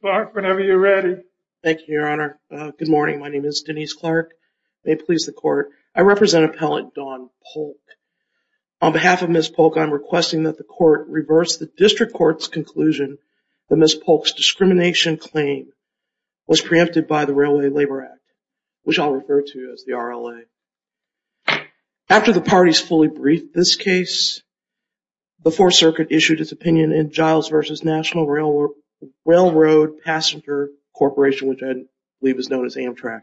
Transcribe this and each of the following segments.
Whenever you're ready. Thank you, Your Honor. Good morning. My name is Denise Clark. May it please the court. I represent Appellant Don Polk On behalf of Ms. Polk, I'm requesting that the court reverse the district courts conclusion that Ms. Polk's discrimination claim Was preempted by the Railway Labor Act, which I'll refer to as the RLA After the parties fully briefed this case Before circuit issued its opinion in Giles versus National Railroad Railroad Passenger Corporation, which I believe is known as Amtrak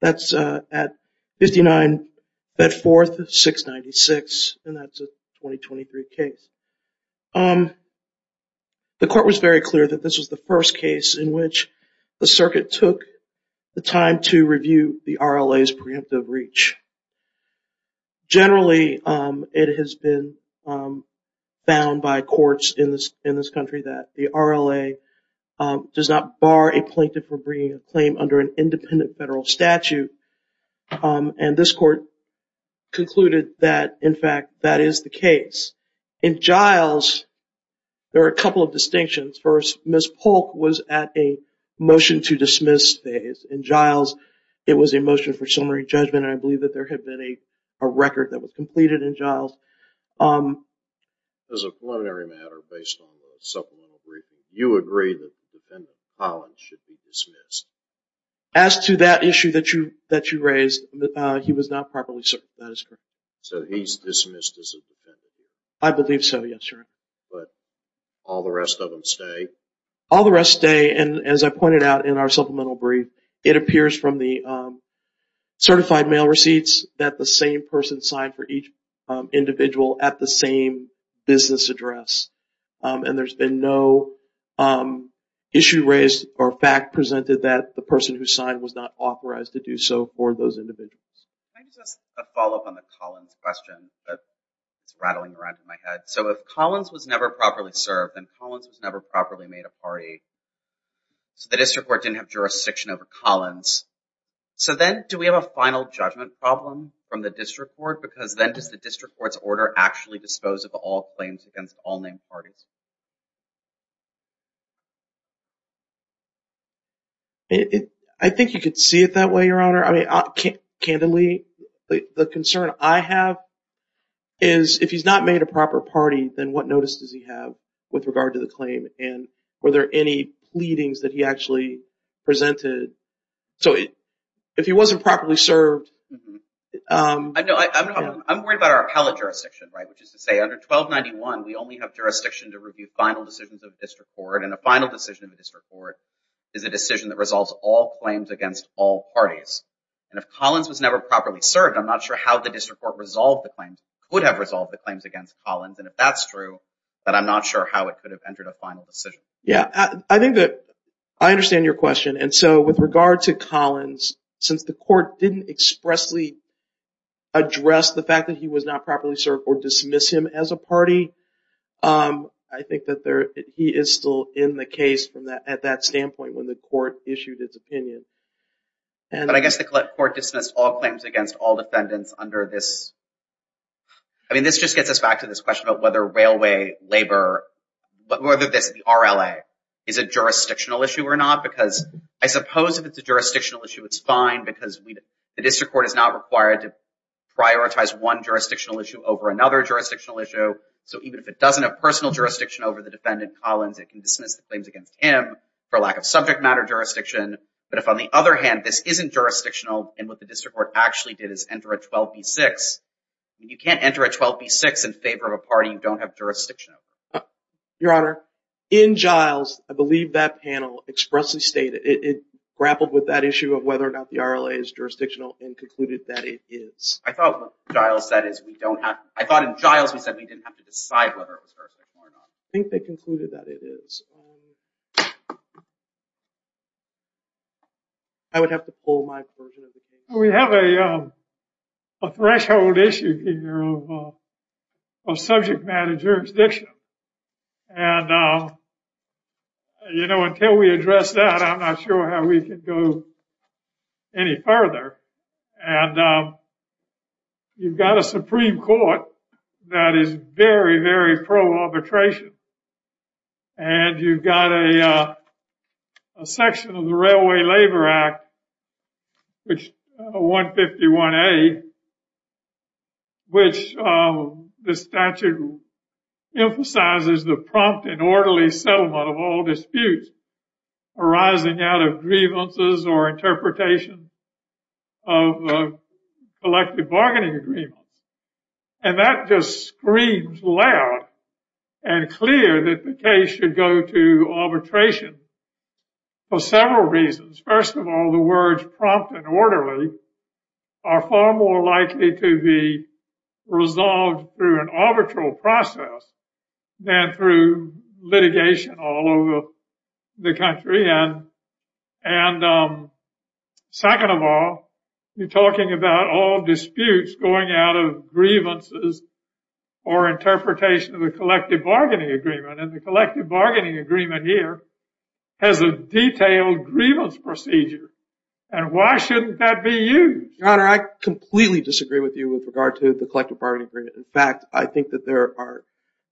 That's at 59 That fourth 696 and that's a 2023 case The court was very clear that this was the first case in which the circuit took the time to review the RLA's preemptive breach Generally, it has been Bound by courts in this in this country that the RLA Does not bar a plaintiff for bringing a claim under an independent federal statute and this court Concluded that in fact that is the case in Giles There are a couple of distinctions first. Ms. Polk was at a motion to dismiss phase in Giles It was a motion for summary judgment, and I believe that there had been a record that was completed in Giles As a preliminary matter based on the supplemental briefing, you agree that the defendant, Collins, should be dismissed? As to that issue that you that you raised, he was not properly served. That is correct. So he's dismissed as a defendant? I believe so, yes, sir. But all the rest of them stay? All the rest stay and as I pointed out in our supplemental brief it appears from the Certified mail receipts that the same person signed for each Individual at the same business address And there's been no Issue raised or fact presented that the person who signed was not authorized to do so for those individuals Can I just follow up on the Collins question? It's rattling around in my head. So if Collins was never properly served and Collins was never properly made a party So the district court didn't have jurisdiction over Collins So then do we have a final judgment problem from the district court? Because then does the district court's order actually dispose of all claims against all named parties? It I think you could see it that way your honor, I mean I can't candidly the concern I have is If he's not made a proper party, then what notice does he have with regard to the claim and were there any pleadings that he actually presented So it if he wasn't properly served I'm worried about our appellate jurisdiction, right? Which is to say under 1291 We only have jurisdiction to review final decisions of the district court and a final decision of the district court Is a decision that resolves all claims against all parties and if Collins was never properly served I'm not sure how the district court resolved the claims would have resolved the claims against Collins and if that's true But I'm not sure how it could have entered a final decision Yeah, I think that I understand your question. And so with regard to Collins since the court didn't expressly Address the fact that he was not properly served or dismiss him as a party I think that there he is still in the case from that at that standpoint when the court issued its opinion But I guess the court dismissed all claims against all defendants under this I Mean this just gets us back to this question about whether railway labor But whether this the RLA is a jurisdictional issue or not because I suppose if it's a jurisdictional issue It's fine because we the district court is not required to Prioritize one jurisdictional issue over another jurisdictional issue So even if it doesn't have personal jurisdiction over the defendant Collins it can dismiss the claims against him for lack of subject matter Jurisdiction, but if on the other hand, this isn't jurisdictional and what the district court actually did is enter a 12b6 You can't enter a 12b6 in favor of a party. You don't have jurisdiction Your honor in Giles. I believe that panel expressly stated it grappled with that issue of whether or not the RLA is jurisdictional and concluded that it is I thought Giles that is we don't have I thought in Giles we said we didn't have to decide whether it was Think they concluded that it is I would have to pull my version. We have a Threshold issue here of subject matter jurisdiction and You know until we address that I'm not sure how we can go any further and You've got a Supreme Court that is very very pro arbitration and you've got a Section of the Railway Labor Act which 151 a Which the statute Emphasizes the prompt and orderly settlement of all disputes arising out of grievances or interpretation of Collective bargaining agreements and that just screams loud and clear that the case should go to Arbitration for several reasons first of all the words prompt and orderly are far more likely to be resolved through an arbitral process than through litigation all over the country and and Second of all you're talking about all disputes going out of grievances or Interpretation of the collective bargaining agreement and the collective bargaining agreement here has a Detailed grievance procedure and why shouldn't that be you honor? I completely disagree with you with regard to the collective bargaining agreement in fact I think that there are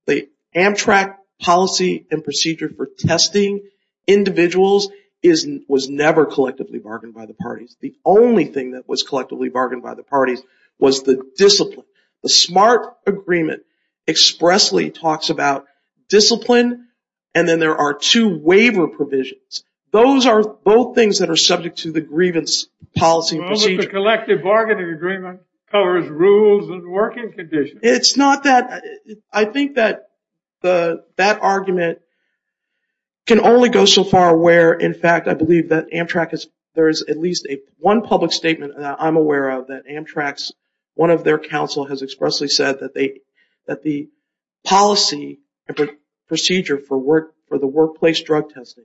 the Amtrak policy and procedure for testing Individuals isn't was never collectively bargained by the parties the only thing that was collectively bargained by the parties was the discipline the smart agreement expressly talks about Discipline and then there are two waiver provisions. Those are both things that are subject to the grievance policy Collective bargaining agreement covers rules and working conditions. It's not that I think that the that argument Can only go so far where in fact I believe that Amtrak is there is at least a one public statement I'm aware of that Amtrak's one of their counsel has expressly said that they that the policy Procedure for work for the workplace drug testing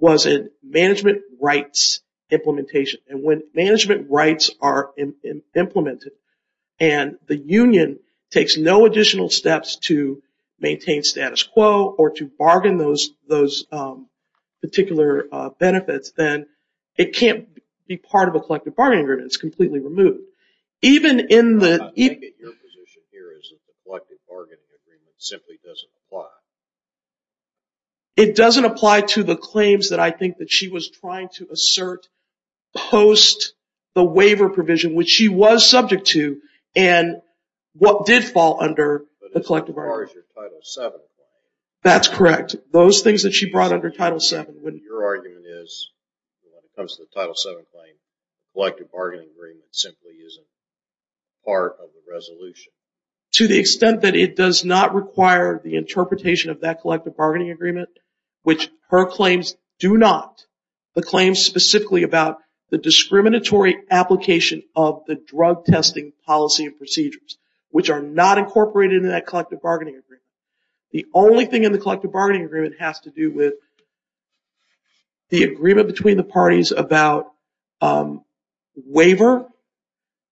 was in management rights implementation and when management rights are Implemented and the Union takes no additional steps to maintain status quo or to bargain those those Benefits then it can't be part of a collective bargaining agreements completely removed even in the It doesn't apply to the claims that I think that she was trying to assert post the waiver provision, which she was subject to and What did fall under the collective? Seven that's correct those things that she brought under title seven when your argument is It comes to the title seven claim collective bargaining agreement simply isn't part of the resolution To the extent that it does not require the interpretation of that collective bargaining agreement Which her claims do not the claims specifically about the discriminatory? Application of the drug testing policy and procedures which are not incorporated in that collective bargaining agreement the only thing in the collective bargaining agreement has to do with the agreement between the parties about Waiver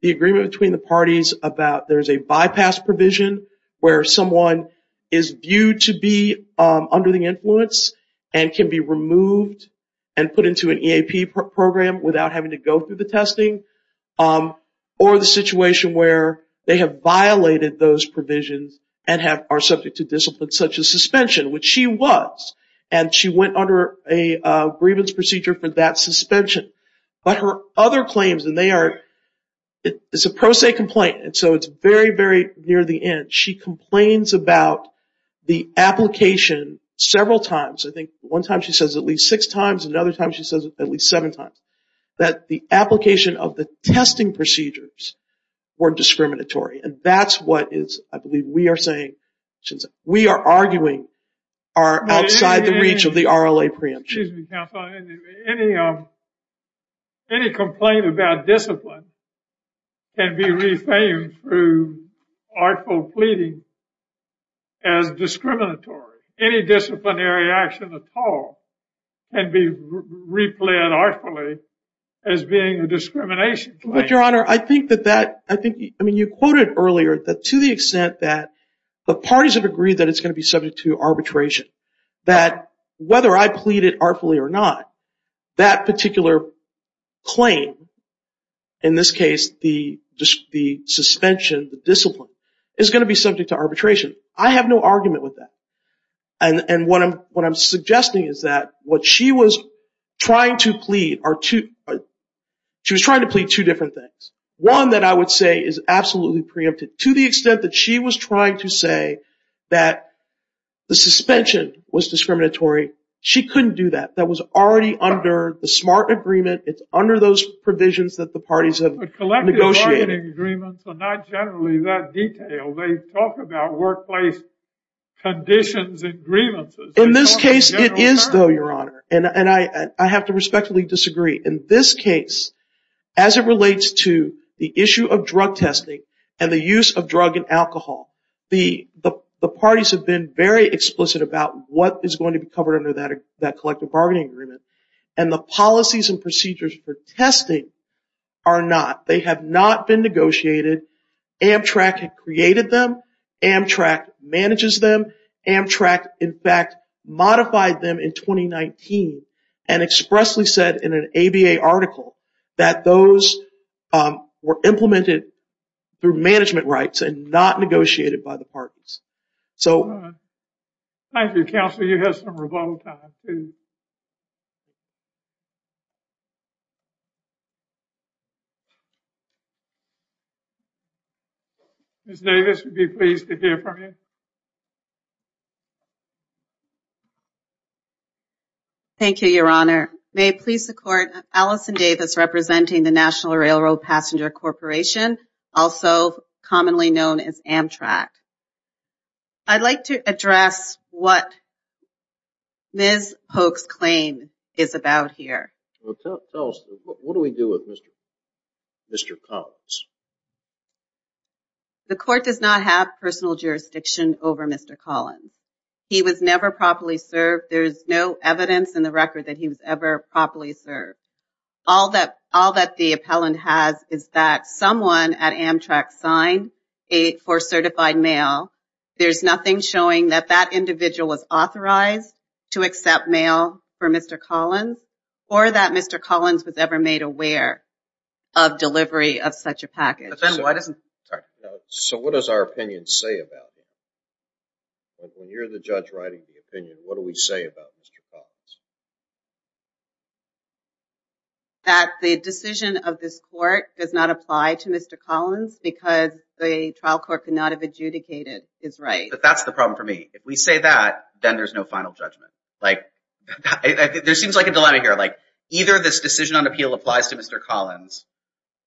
the agreement between the parties about there's a bypass provision where someone is Viewed to be under the influence and can be removed and put into an EAP Program without having to go through the testing or the situation where they have violated those provisions and have are subject to discipline such as suspension which she was and she went under a grievance procedure for that suspension But her other claims and they are It's a pro se complaint. And so it's very very near the end. She complains about the Application several times. I think one time she says at least six times another time She says at least seven times that the application of the testing procedures Were discriminatory and that's what is I believe we are saying since we are arguing are outside the reach of the RLA preemption Any complaint about discipline can be reframed through artful pleading as Discriminatory any disciplinary action at all and be Ripley and artfully as being a discrimination, but your honor I think that that I think I mean you quoted earlier that to the extent that The parties have agreed that it's going to be subject to arbitration that whether I plead it artfully or not that particular claim in Is going to be subject to arbitration I have no argument with that and And what I'm what I'm suggesting is that what she was trying to plead are two She was trying to plead two different things One that I would say is absolutely preempted to the extent that she was trying to say that The suspension was discriminatory. She couldn't do that. That was already under the smart agreement It's under those provisions that the parties of the collective bargaining agreements are not generally that detail. They talk about workplace Conditions and grievances in this case. It is though your honor and and I I have to respectfully disagree in this case as It relates to the issue of drug testing and the use of drug and alcohol the the parties have been very explicit about what is going to be covered under that that collective bargaining agreement and Policies and procedures for testing are not they have not been negotiated Amtrak had created them Amtrak manages them Amtrak in fact modified them in 2019 and expressly said in an ABA article that those were implemented through management rights and not negotiated by the parties, so Thank you counselor. You have some rebuttal time You Miss Davis would be pleased to hear from you Thank you your honor may it please the court Allison Davis representing the National Railroad Passenger Corporation also commonly known as Amtrak I'd like to address what? This hoax claim is about here. What do we do with mr. Mr. Collins? The court does not have personal jurisdiction over mr. Collins. He was never properly served There's no evidence in the record that he was ever properly served All that all that the appellant has is that someone at Amtrak signed a for certified mail? There's nothing showing that that individual was authorized to accept mail for mr. Collins or that mr. Collins was ever made aware of Delivery of such a package, but then why doesn't so what does our opinion say about? When you're the judge writing the opinion, what do we say about? That the decision of this court does not apply to mr. Because the trial court could not have adjudicated is right, but that's the problem for me if we say that then there's no final judgment like There seems like a dilemma here like either this decision on appeal applies to mr. Collins,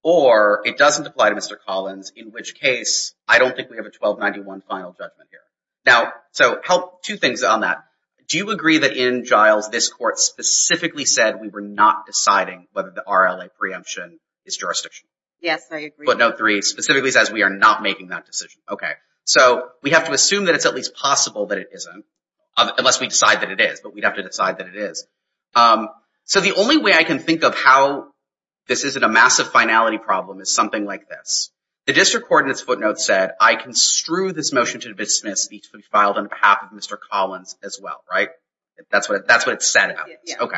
or it doesn't apply to mr. Collins in which case I don't think we have a 1291 final judgment here now So help two things on that. Do you agree that in Giles this court specifically said we were not deciding whether the RLA preemption Is jurisdiction yes, but no three specifically says we are not making that decision Okay, so we have to assume that it's at least possible that it isn't unless we decide that it is But we'd have to decide that it is So the only way I can think of how This isn't a massive finality problem is something like this the district coordinates footnotes said I construe this motion to dismiss These will be filed on behalf of mr. Collins as well, right? That's what that's what it said. Okay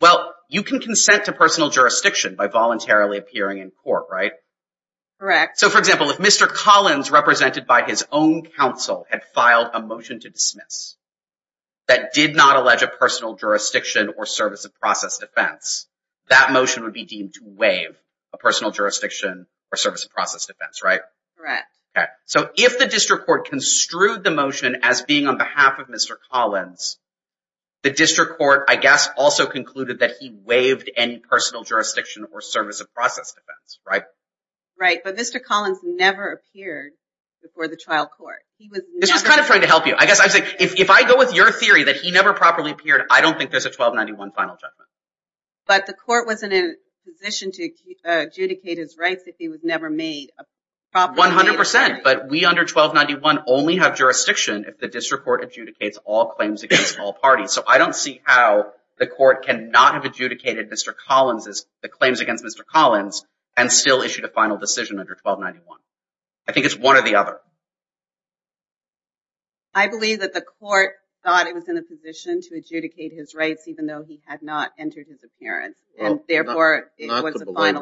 Well, you can consent to personal jurisdiction by voluntarily appearing in court, right Correct. So for example if mr. Collins represented by his own counsel had filed a motion to dismiss That did not allege a personal jurisdiction or service of process defense That motion would be deemed to waive a personal jurisdiction or service of process defense, right? So if the district court construed the motion as being on behalf of mr. Collins The district court, I guess also concluded that he waived any personal jurisdiction or service of process defense, right? Right, but mr. Collins never appeared before the trial court He was this was kind of trying to help you I guess I think if I go with your theory that he never properly appeared. I don't think there's a 1291 final judgment But the court was in a position to adjudicate his rights if he was never made 100% but we under 1291 only have jurisdiction if the district court adjudicates all claims against all parties So I don't see how the court cannot have adjudicated. Mr. Collins is the claims against? Mr. Collins and still issued a final decision under 1291. I think it's one or the other. I Believe that the court thought it was in a position to adjudicate his rights, even though he had not entered his appearance Therefore What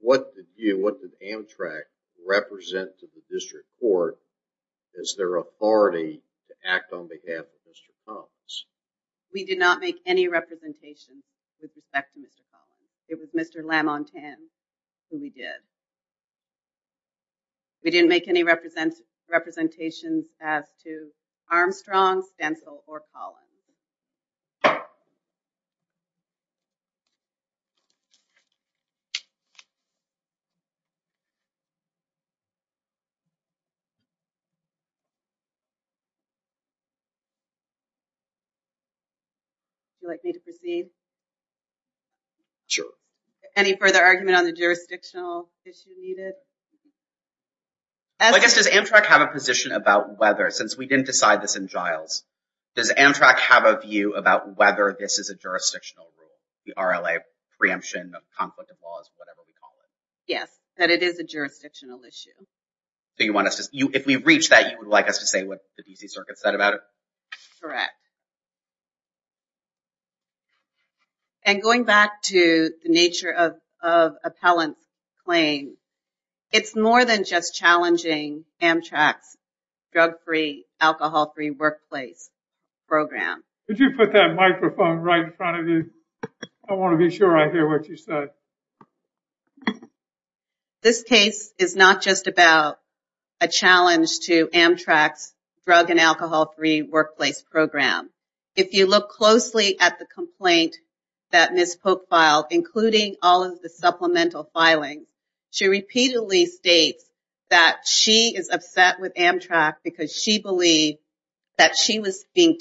What did you what did Amtrak? Represent to the district court as their authority to act on behalf of mr. Collins We did not make any representation With respect to mr. Collins. It was mr. Lam on 10 who we did We didn't make any represents representations as to Armstrong stencil or Colin Armstrong You like me to proceed Sure any further argument on the jurisdictional issue needed As I guess does Amtrak have a position about whether since we didn't decide this in Giles Does Amtrak have a view about whether this is a jurisdictional rule the RLA preemption of conflict of laws Yes that it is a jurisdictional issue So you want us to you if we reach that you would like us to say what the DC Circuit said about it correct And going back to the nature of appellant claim It's more than just challenging Amtrak's Alcohol-free workplace program. Did you put that microphone right in front of you? I want to be sure I hear what you said This case is not just about a challenge to Amtrak's drug and alcohol-free workplace program If you look closely at the complaint that miss Pope filed including all of the supplemental filing She repeatedly states that she is upset with Amtrak because she believed that she was being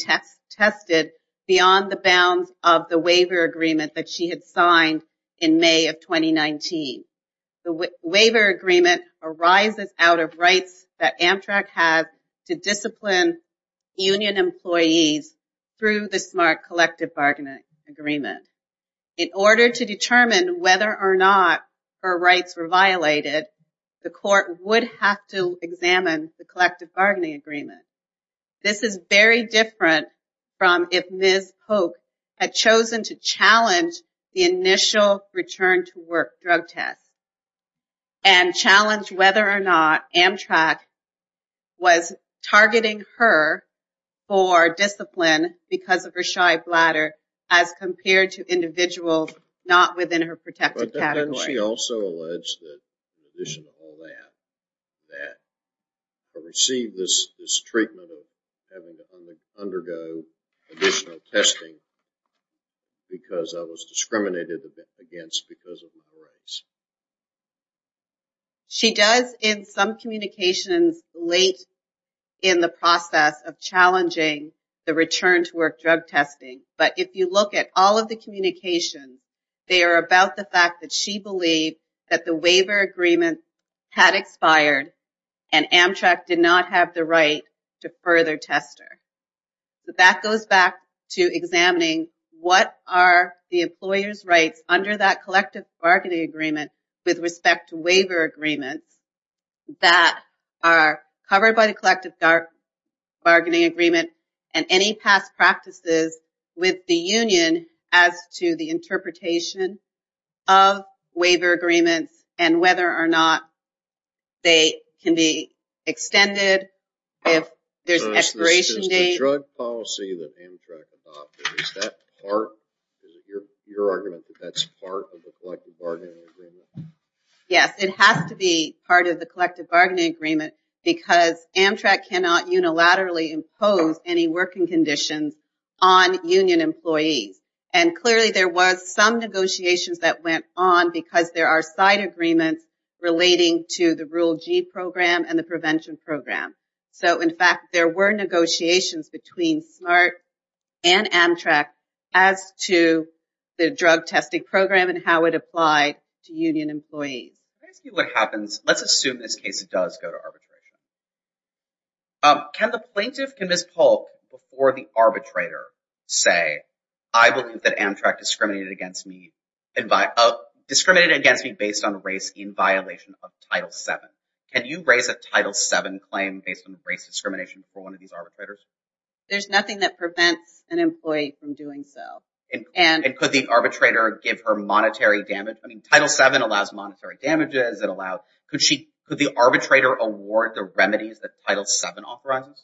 Tested beyond the bounds of the waiver agreement that she had signed in May of 2019 The waiver agreement arises out of rights that Amtrak has to discipline union employees Through the smart collective bargaining agreement in order to determine whether or not her rights were violated The court would have to examine the collective bargaining agreement this is very different from if miss Pope had chosen to challenge the initial return to work drug test and Challenge whether or not Amtrak was targeting her for Discipline because of her shy bladder as compared to individuals not within her protected Receive this Testing because I was discriminated against because of She does in some communications late in the process of challenging Return-to-work drug testing, but if you look at all of the communication they are about the fact that she believed that the waiver agreement had expired and Amtrak did not have the right to further tester But that goes back to examining What are the employers rights under that collective bargaining agreement with respect to waiver agreements? that are covered by the collective dark bargaining agreement and any past practices with the Union as to the interpretation of waiver agreements and whether or not they can be extended if there's Policy that Yes, it has to be part of the collective bargaining agreement because Amtrak cannot unilaterally impose any working conditions on Union employees and clearly there was some negotiations that went on because there are side agreements Relating to the rule G program and the prevention program. So in fact, there were negotiations between Smart and Amtrak as to the drug testing program and how it applied to Union employees See what happens. Let's assume this case. It does go to arbitration Can the plaintiff can miss Paul before the arbitrator say I believe that Amtrak discriminated against me and by Discriminated against me based on race in violation of title 7 Can you raise a title 7 claim based on race discrimination for one of these arbitrators? There's nothing that prevents an employee from doing so and and could the arbitrator give her monetary damage I mean title 7 allows monetary damages that allowed could she put the arbitrator award the remedies that title 7 authorizes?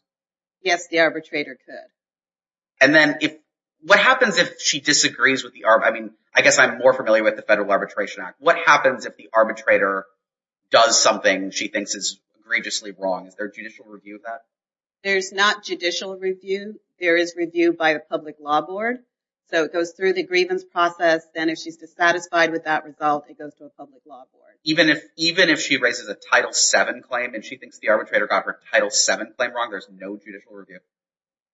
Yes, the arbitrator could and then if what happens if she disagrees with the arm I mean, I guess I'm more familiar with the Federal Arbitration Act what happens if the arbitrator Does something she thinks is egregiously wrong. Is there judicial review of that? There's not judicial review There is review by the Public Law Board So it goes through the grievance process then if she's dissatisfied with that result It goes to a public law board Even if even if she raises a title 7 claim and she thinks the arbitrator got her title 7 claim wrong. There's no judicial review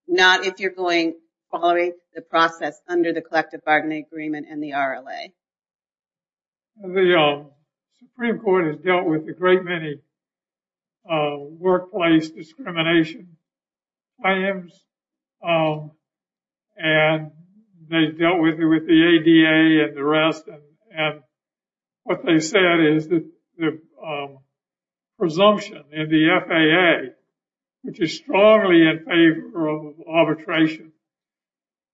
Not if you're going following the process under the collective bargaining agreement and the RLA The Supreme Court has dealt with the great many Workplace discrimination I am And they dealt with it with the ADA and the rest and what they said is that the Presumption in the FAA Which is strongly in favor of arbitration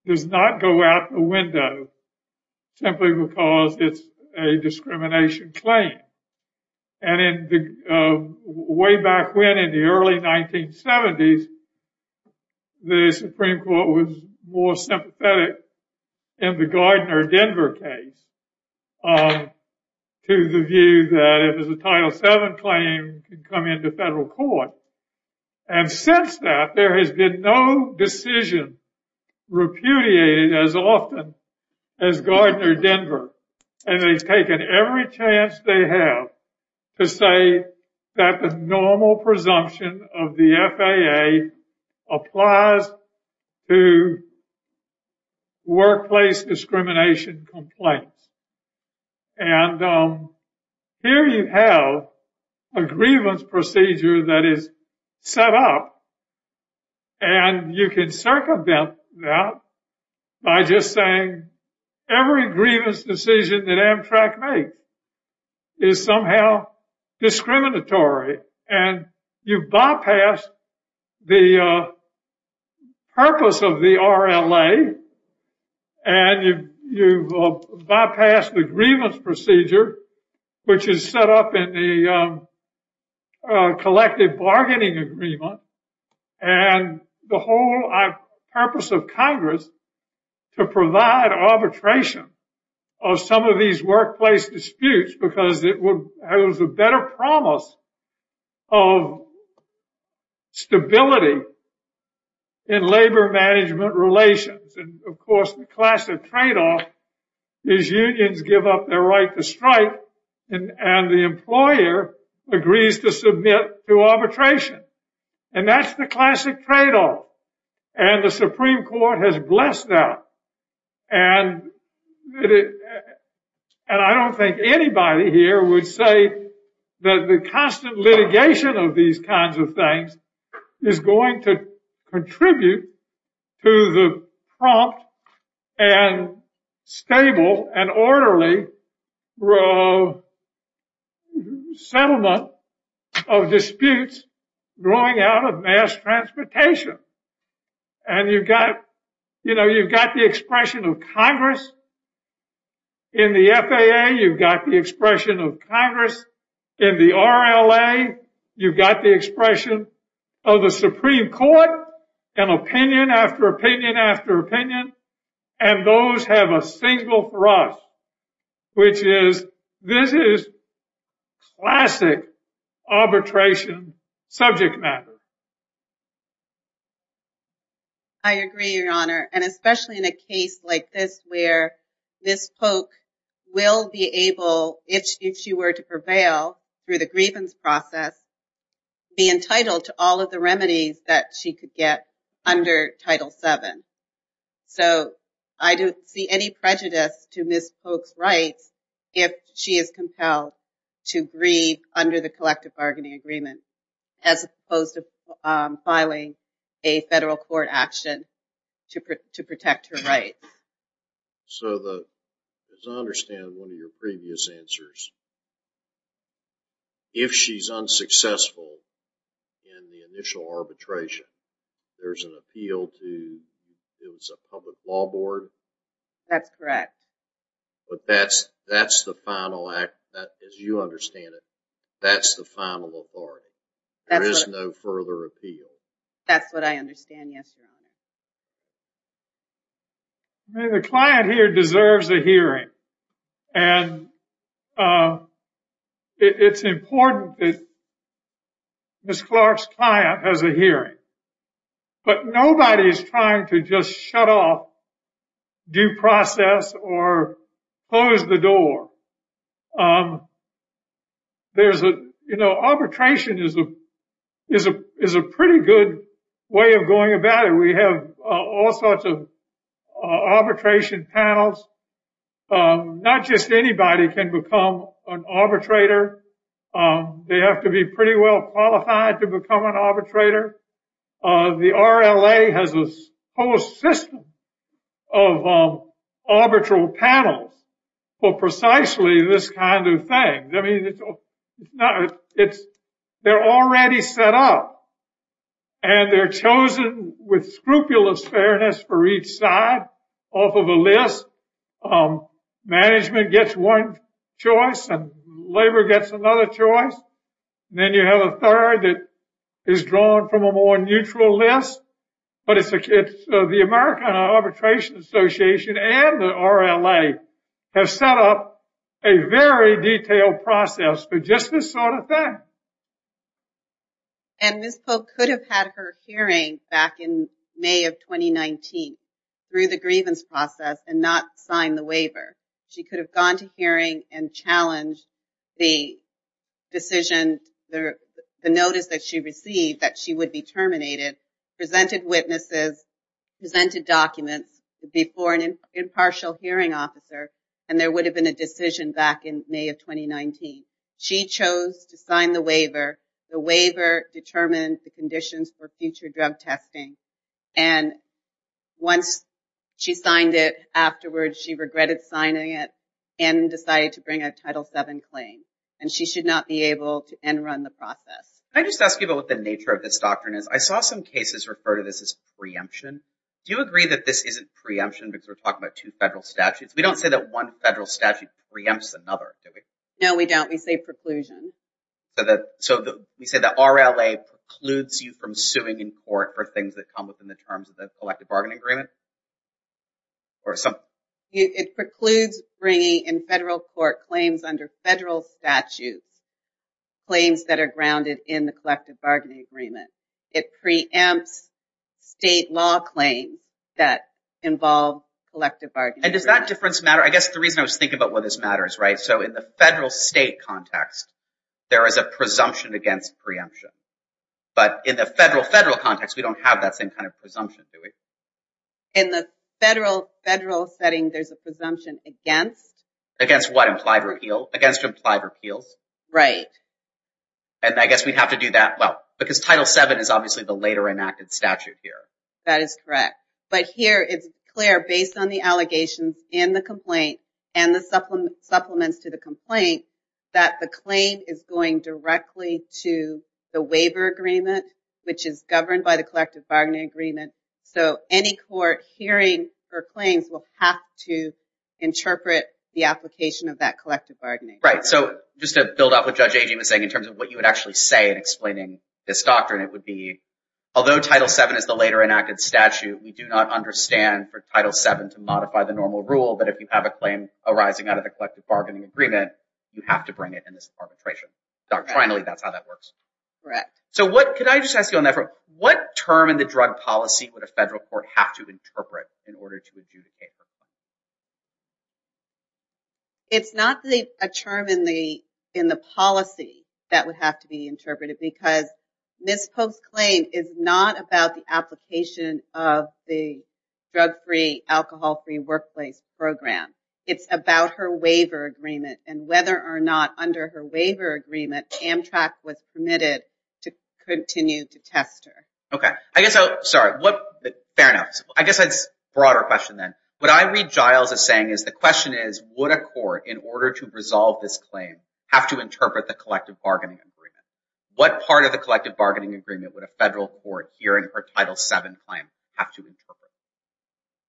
Does not go out the window simply because it's a discrimination claim and in the way back when in the early 1970s The Supreme Court was more sympathetic in the Gardner Denver case To the view that it was a title 7 claim to come into federal court and Since that there has been no decision Repudiated as often as Gardner Denver and they've taken every chance they have to say that the normal presumption of the FAA applies to Workplace discrimination complaints and Here you have a grievance procedure that is set up and You can circumvent that by just saying every grievance decision that Amtrak make is somehow discriminatory and you bypass the Purpose of the RLA and you Bypass the grievance procedure, which is set up in the Collective bargaining agreement and the whole purpose of Congress to provide arbitration of some of these workplace disputes because it would have a better promise of Stability in labor management relations and of course the class of trade-off These unions give up their right to strike and and the employer agrees to submit to arbitration and that's the classic trade-off and the Supreme Court has blessed out and And I don't think anybody here would say that the constant litigation of these kinds of things is going to contribute to the prompt and Stable and orderly Settlement of disputes growing out of mass transportation and You've got you know, you've got the expression of Congress In the FAA you've got the expression of Congress in the RLA you've got the expression of the Supreme Court and Opinion after opinion after opinion and those have a single for us which is this is Classic arbitration subject matter I agree your honor and especially in a case like this where this poke Will be able if she were to prevail through the grievance process Be entitled to all of the remedies that she could get under title 7 So I don't see any prejudice to miss folks rights if she is compelled to breathe under the collective bargaining agreement as opposed to filing a federal court action to protect her right so the Understand one of your previous answers If she's unsuccessful in the initial arbitration There's an appeal to It was a public law board That's correct But that's that's the final act as you understand it. That's the final authority There is no further appeal. That's what I understand. Yes The client here deserves a hearing and It's important that Miss Clark's client has a hearing But nobody is trying to just shut off due process or Close the door There's a you know arbitration is a is a is a pretty good way of going about it we have all sorts of arbitration panels Not just anybody can become an arbitrator They have to be pretty well qualified to become an arbitrator the RLA has a whole system of Arbitral panels for precisely this kind of thing. I mean It's they're already set up and They're chosen with scrupulous fairness for each side off of a list Management gets one choice and labor gets another choice Then you have a third that is drawn from a more neutral list but it's a kid the American Arbitration Association and the RLA have set up a very detailed process for just this sort of thing and Miss Polk could have had her hearing back in May of 2019 Through the grievance process and not sign the waiver. She could have gone to hearing and challenged the Decision there the notice that she received that she would be terminated presented witnesses Presented documents before an impartial hearing officer and there would have been a decision back in May of 2019 she chose to sign the waiver the waiver determined the conditions for future drug testing and Once she signed it afterwards she regretted signing it and Decided to bring a title 7 claim and she should not be able to end run the process I just ask you about what the nature of this doctrine is. I saw some cases refer to this as preemption Do you agree that this isn't preemption because we're talking about two federal statutes We don't say that one federal statute preempts another. No, we don't we say preclusion So that so the we say the RLA Precludes you from suing in court for things that come within the terms of the collective bargaining agreement Or something it precludes bringing in federal court claims under federal statutes Claims that are grounded in the collective bargaining agreement. It preempts state law claims that Involve collective bargaining and does that difference matter? I guess the reason I was thinking about what this matters, right? So in the federal state context, there is a presumption against preemption But in the federal federal context, we don't have that same kind of presumption to it in the federal federal setting There's a presumption against against what implied repeal against implied repeals, right? And I guess we'd have to do that. Well because title 7 is obviously the later enacted statute here. That is correct But here it's clear based on the allegations in the complaint and the supplement supplements to the complaint That the claim is going directly to the waiver agreement Which is governed by the collective bargaining agreement. So any court hearing for claims will have to Interpret the application of that collective bargaining, right? So just to build up with Judge Agee was saying in terms of what you would actually say in explaining this doctrine Although title 7 is the later enacted statute We do not understand for title 7 to modify the normal rule But if you have a claim arising out of the collective bargaining agreement, you have to bring it in this arbitration Doctrinally, that's how that works Correct So what could I just ask you on that? What term in the drug policy would a federal court have to interpret in order to adjudicate? It's not the term in the in the policy that would have to be interpreted because This post claim is not about the application of the drug-free Alcohol-free workplace program. It's about her waiver agreement and whether or not under her waiver agreement Amtrak was permitted to continue to test her. Okay, I guess so. Sorry what fair enough? I guess that's broader question Then what I read Giles is saying is the question is would a court in order to resolve this claim? Have to interpret the collective bargaining agreement What part of the collective bargaining agreement would a federal court here in her title 7 plan have to interpret?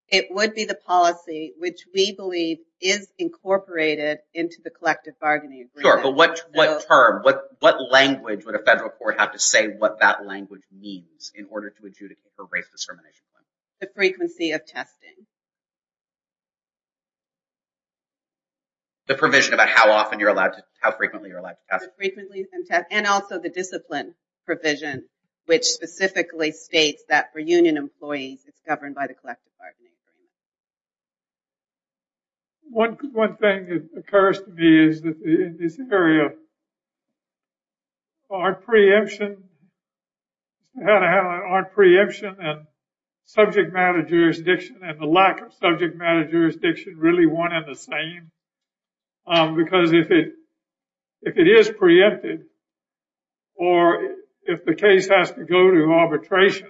It would be the policy which we believe is Incorporated into the collective bargaining Sure But what what term what what? Language would a federal court have to say what that language means in order to adjudicate for race discrimination the frequency of testing The Provision about how often you're allowed to how frequently you're like And also the discipline provision which specifically states that for union employees. It's governed by the collective bargaining One good one thing that occurs to me is that this area Our preemption how to have our preemption and Subject-matter jurisdiction and the lack of subject-matter jurisdiction really one at the same Because if it if it is preempted or if the case has to go to arbitration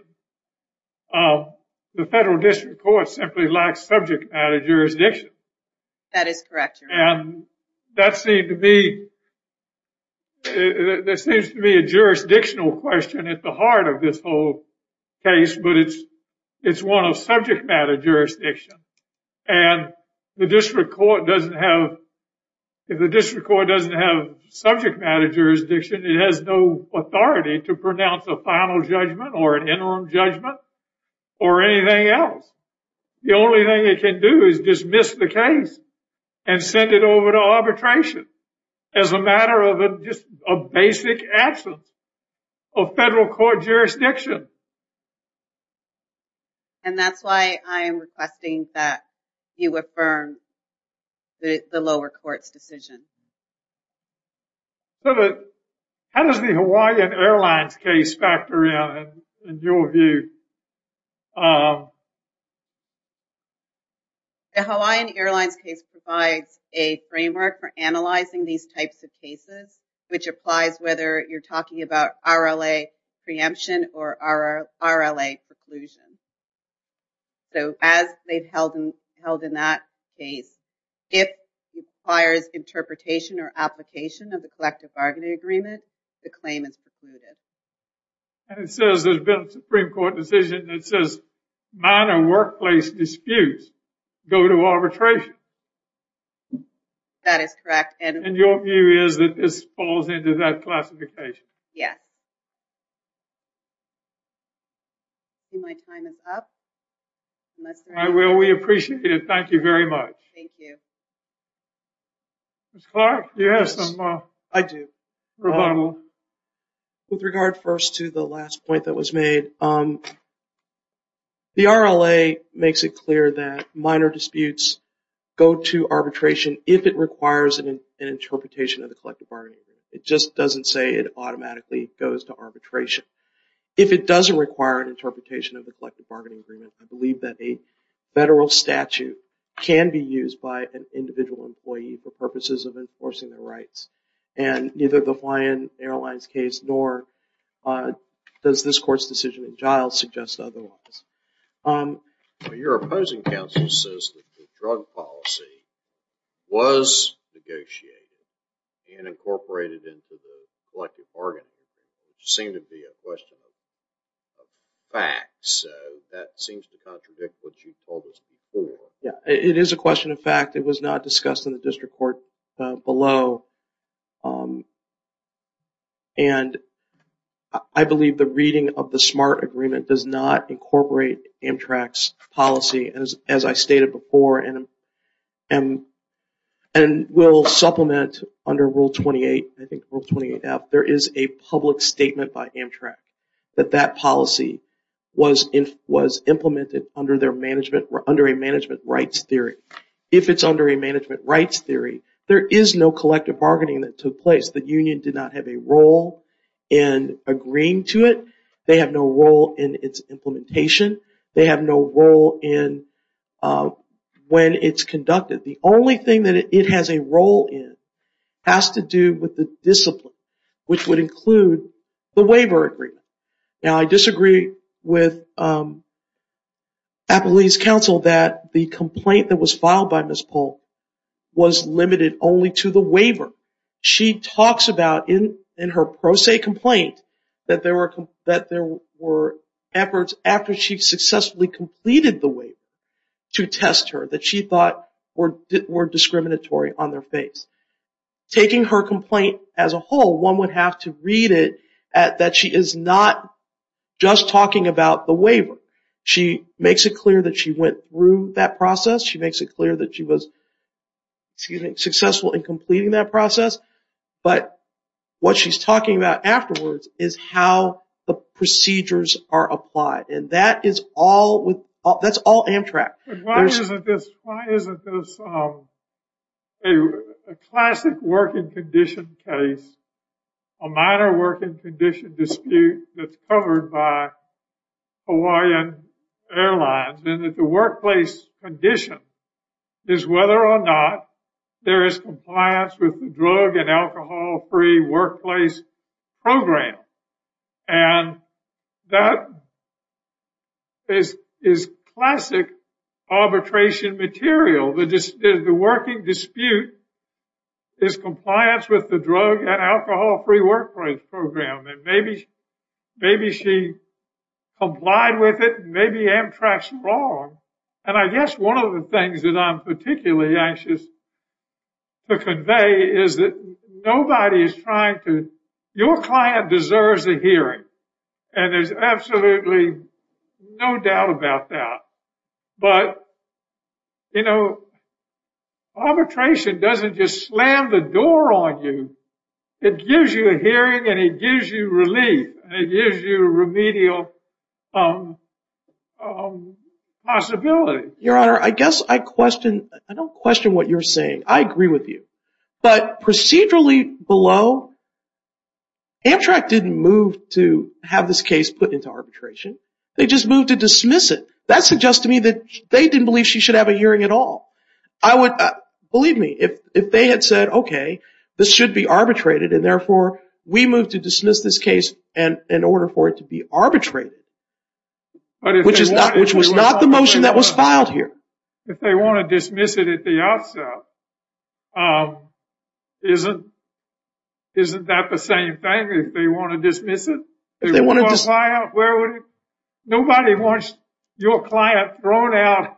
The federal district court simply lacks subject-matter jurisdiction that is correct and that seemed to be There seems to be a jurisdictional question at the heart of this whole case, but it's one of subject-matter jurisdiction and The district court doesn't have If the district court doesn't have subject-matter jurisdiction It has no authority to pronounce a final judgment or an interim judgment or anything else the only thing it can do is dismiss the case and Send it over to arbitration as a matter of a just a basic absence of federal court jurisdiction And that's why I am requesting that you affirm the lower court's decision So that how does the Hawaiian Airlines case factor in your view The Hawaiian Airlines case provides a framework for analyzing these types of cases which applies whether you're talking about RLA preemption or our RLA preclusion so as they've held and held in that case if requires interpretation or application of the collective bargaining agreement the claim is precluded And it says there's been a Supreme Court decision. It says minor workplace disputes go to arbitration That is correct and your view is that this falls into that classification, yeah You My time is up. I will we appreciate it. Thank you very much. Thank you Yes, I do With regard first to the last point that was made The RLA makes it clear that minor disputes Go to arbitration if it requires an interpretation of the collective bargaining It just doesn't say it automatically goes to arbitration if it doesn't require an interpretation of the collective bargaining agreement I believe that a federal statute can be used by an individual employee for purposes of enforcing their rights and neither the Hawaiian Airlines case nor Does this court's decision in Giles suggest otherwise? Your opposing counsel says that the drug policy was Negotiated and incorporated into the collective bargaining which seemed to be a question of Fact so that seems to contradict what you told us before Yeah, it is a question of fact. It was not discussed in the district court below and I believe the reading of the smart agreement does not incorporate Amtrak's policy as as I stated before and and and Will supplement under rule 28. I think rule 28 out There is a public statement by Amtrak that that policy Was in was implemented under their management were under a management rights theory if it's under a management rights theory There is no collective bargaining that took place. The Union did not have a role in Agreeing to it. They have no role in its implementation. They have no role in When it's conducted the only thing that it has a role in Has to do with the discipline which would include the waiver agreement. Now, I disagree with Appalachian Council that the complaint that was filed by Miss Paul Was limited only to the waiver She talks about in in her pro se complaint that there were that there were Efforts after she successfully completed the way to test her that she thought or did were discriminatory on their face Taking her complaint as a whole one would have to read it at that. She is not Just talking about the waiver. She makes it clear that she went through that process. She makes it clear that she was Successful in completing that process but what she's talking about afterwards is how the Procedures are applied and that is all with that's all Amtrak Classic working condition case a minor working condition dispute that's covered by Hawaiian Airlines and that the workplace condition is whether or not There is compliance with the drug and alcohol-free workplace program and that Is is classic Arbitration material the just is the working dispute Is compliance with the drug and alcohol-free workplace program and maybe maybe she Applied with it. Maybe Amtrak's wrong and I guess one of the things that I'm particularly anxious to convey is that nobody is trying to your client deserves a hearing and there's absolutely no doubt about that, but you know Arbitration doesn't just slam the door on you. It gives you a hearing and it gives you relief. It gives you remedial Possibility Your honor, I guess I question I don't question what you're saying I agree with you but procedurally below Amtrak didn't move to have this case put into arbitration. They just moved to dismiss it That's suggest to me that they didn't believe she should have a hearing at all I would believe me if if they had said, okay This should be arbitrated and therefore we move to dismiss this case and in order for it to be arbitrated Which is not which was not the motion that was filed here if they want to dismiss it at the outset Isn't Isn't that the same thing if they want to dismiss it they want to just lie out where would it? Nobody wants your client thrown out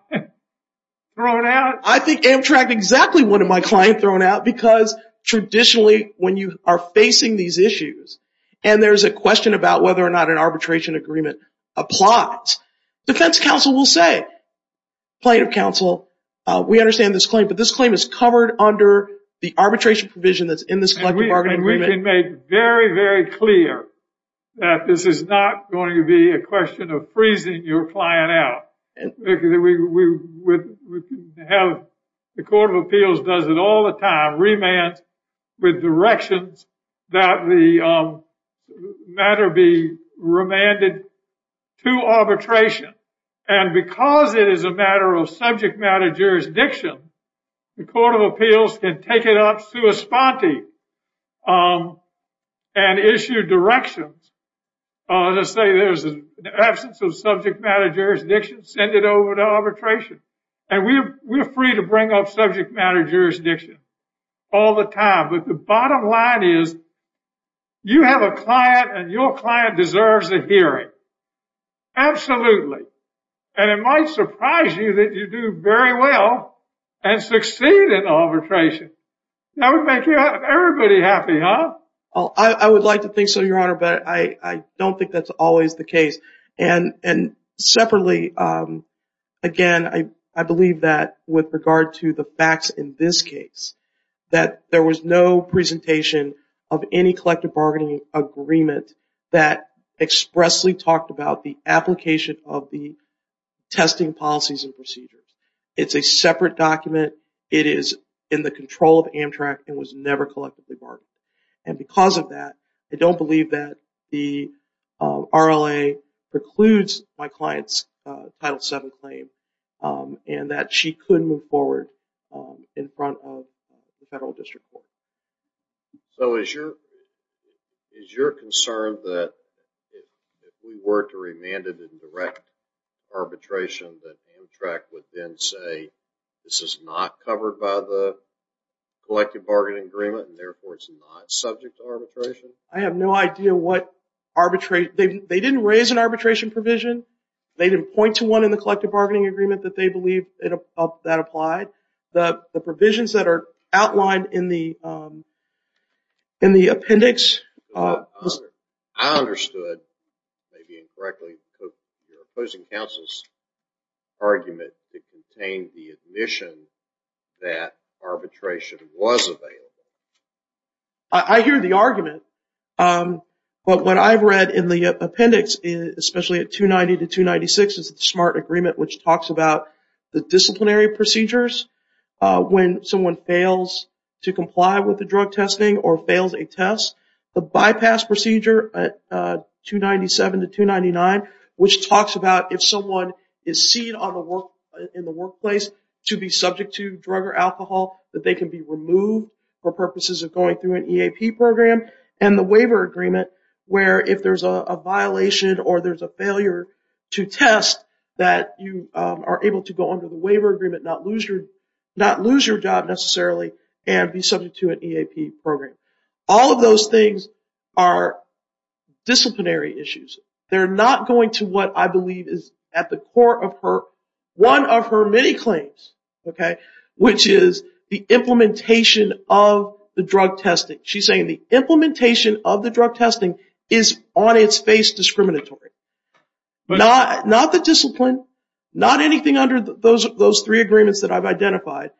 I think Amtrak exactly one of my client thrown out because Traditionally when you are facing these issues and there's a question about whether or not an arbitration agreement applies defense counsel will say plaintiff counsel We understand this claim, but this claim is covered under the arbitration provision that's in this one We are and we can make very very clear That this is not going to be a question of freezing your client out Have the Court of Appeals does it all the time remand with directions that the matter be remanded to Arbitration and because it is a matter of subject matter jurisdiction The Court of Appeals can take it up to a spotty and Issue directions Let's say there's an absence of subject matter Jurisdiction send it over to arbitration and we're we're free to bring up subject matter jurisdiction all the time but the bottom line is You have a client and your client deserves a hearing Absolutely, and it might surprise you that you do very well and succeed in arbitration I would make everybody happy, huh? Oh, I would like to think so your honor, but I I don't think that's always the case and separately Again, I I believe that with regard to the facts in this case that there was no presentation of any collective bargaining agreement that expressly talked about the application of the Testing policies and procedures. It's a separate document it is in the control of Amtrak and was never collectively bargained and because of that, I don't believe that the RLA precludes my clients title 7 claim And that she couldn't move forward in front of the federal district so as your Is your concern that? We were to remanded in direct Arbitration that Amtrak would then say this is not covered by the Collective bargaining agreement and therefore it's not subject to arbitration. I have no idea what arbitrate they didn't raise an arbitration provision They didn't point to one in the collective bargaining agreement that they believe it up that applied the the provisions that are outlined in the in the appendix Understood Maybe incorrectly opposing counsel's Argument to contain the admission that arbitration was available. I Hear the argument But what I've read in the appendix is especially at 290 to 296 is the smart agreement which talks about the disciplinary procedures When someone fails to comply with the drug testing or fails a test the bypass procedure 297 to 299 which talks about if someone is seen on the work in the workplace to be subject to drug or alcohol That they can be removed for purposes of going through an EAP program and the waiver agreement where if there's a violation or there's a failure to Test that you are able to go under the waiver agreement not lose your not lose your job Necessarily and be subject to an EAP program. All of those things are Disciplinary issues they're not going to what I believe is at the core of her one of her many claims Okay, which is the implementation of the drug testing? She's saying the implementation of the drug testing is on its face discriminatory But not not the discipline not anything under those those three agreements that I've identified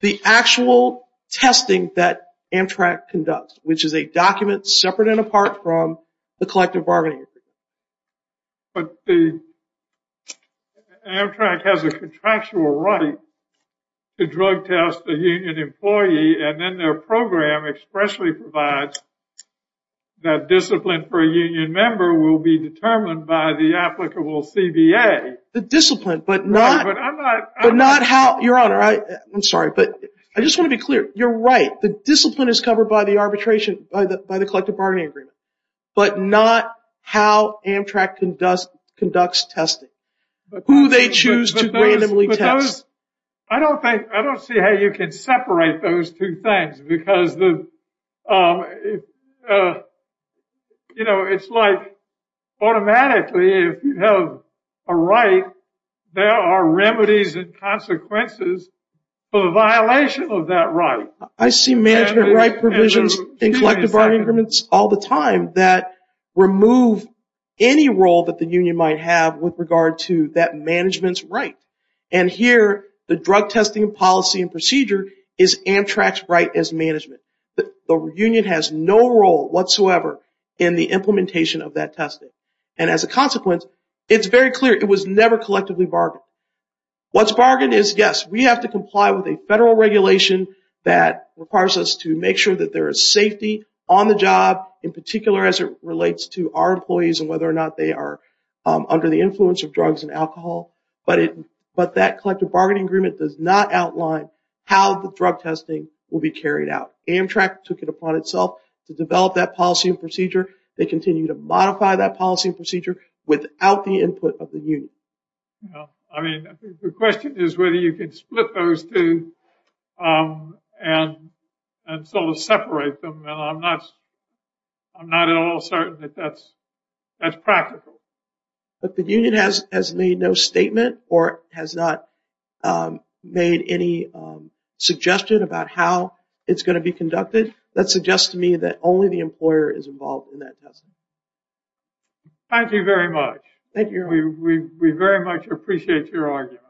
the actual Testing that Amtrak conducts, which is a document separate and apart from the collective bargaining agreement but the Amtrak has a contractual right to drug test the union employee and then their program expressly provides That discipline for a union member will be determined by the applicable CBA the discipline but not Not how your honor, I I'm sorry, but I just want to be clear You're right. The discipline is covered by the arbitration by the by the collective bargaining agreement, but not how Amtrak conducts conducts testing Who they choose to randomly test. I don't think I don't see how you can separate those two things because the You know, it's like automatically if you have a right There are remedies and consequences for the violation of that right I see management right provisions in collective bargaining agreements all the time that remove any role that the union might have with regard to that management's right and Here the drug testing policy and procedure is Amtrak's right as management The union has no role whatsoever in the implementation of that testing and as a consequence It's very clear it was never collectively bargained What's bargained is yes We have to comply with a federal regulation that Requires us to make sure that there is safety on the job in particular as it relates to our employees and whether or not they are Under the influence of drugs and alcohol But it but that collective bargaining agreement does not outline how the drug testing will be carried out Amtrak took it upon itself to develop that policy and procedure They continue to modify that policy and procedure without the input of the unit I mean the question is whether you can split those two and And sort of separate them, and I'm not I'm not at all certain that that's that's practical, but the union has has made no statement or has not made any Suggested about how it's going to be conducted that suggests to me that only the employer is involved in that testing Thank you very much. Thank you. We very much appreciate your argument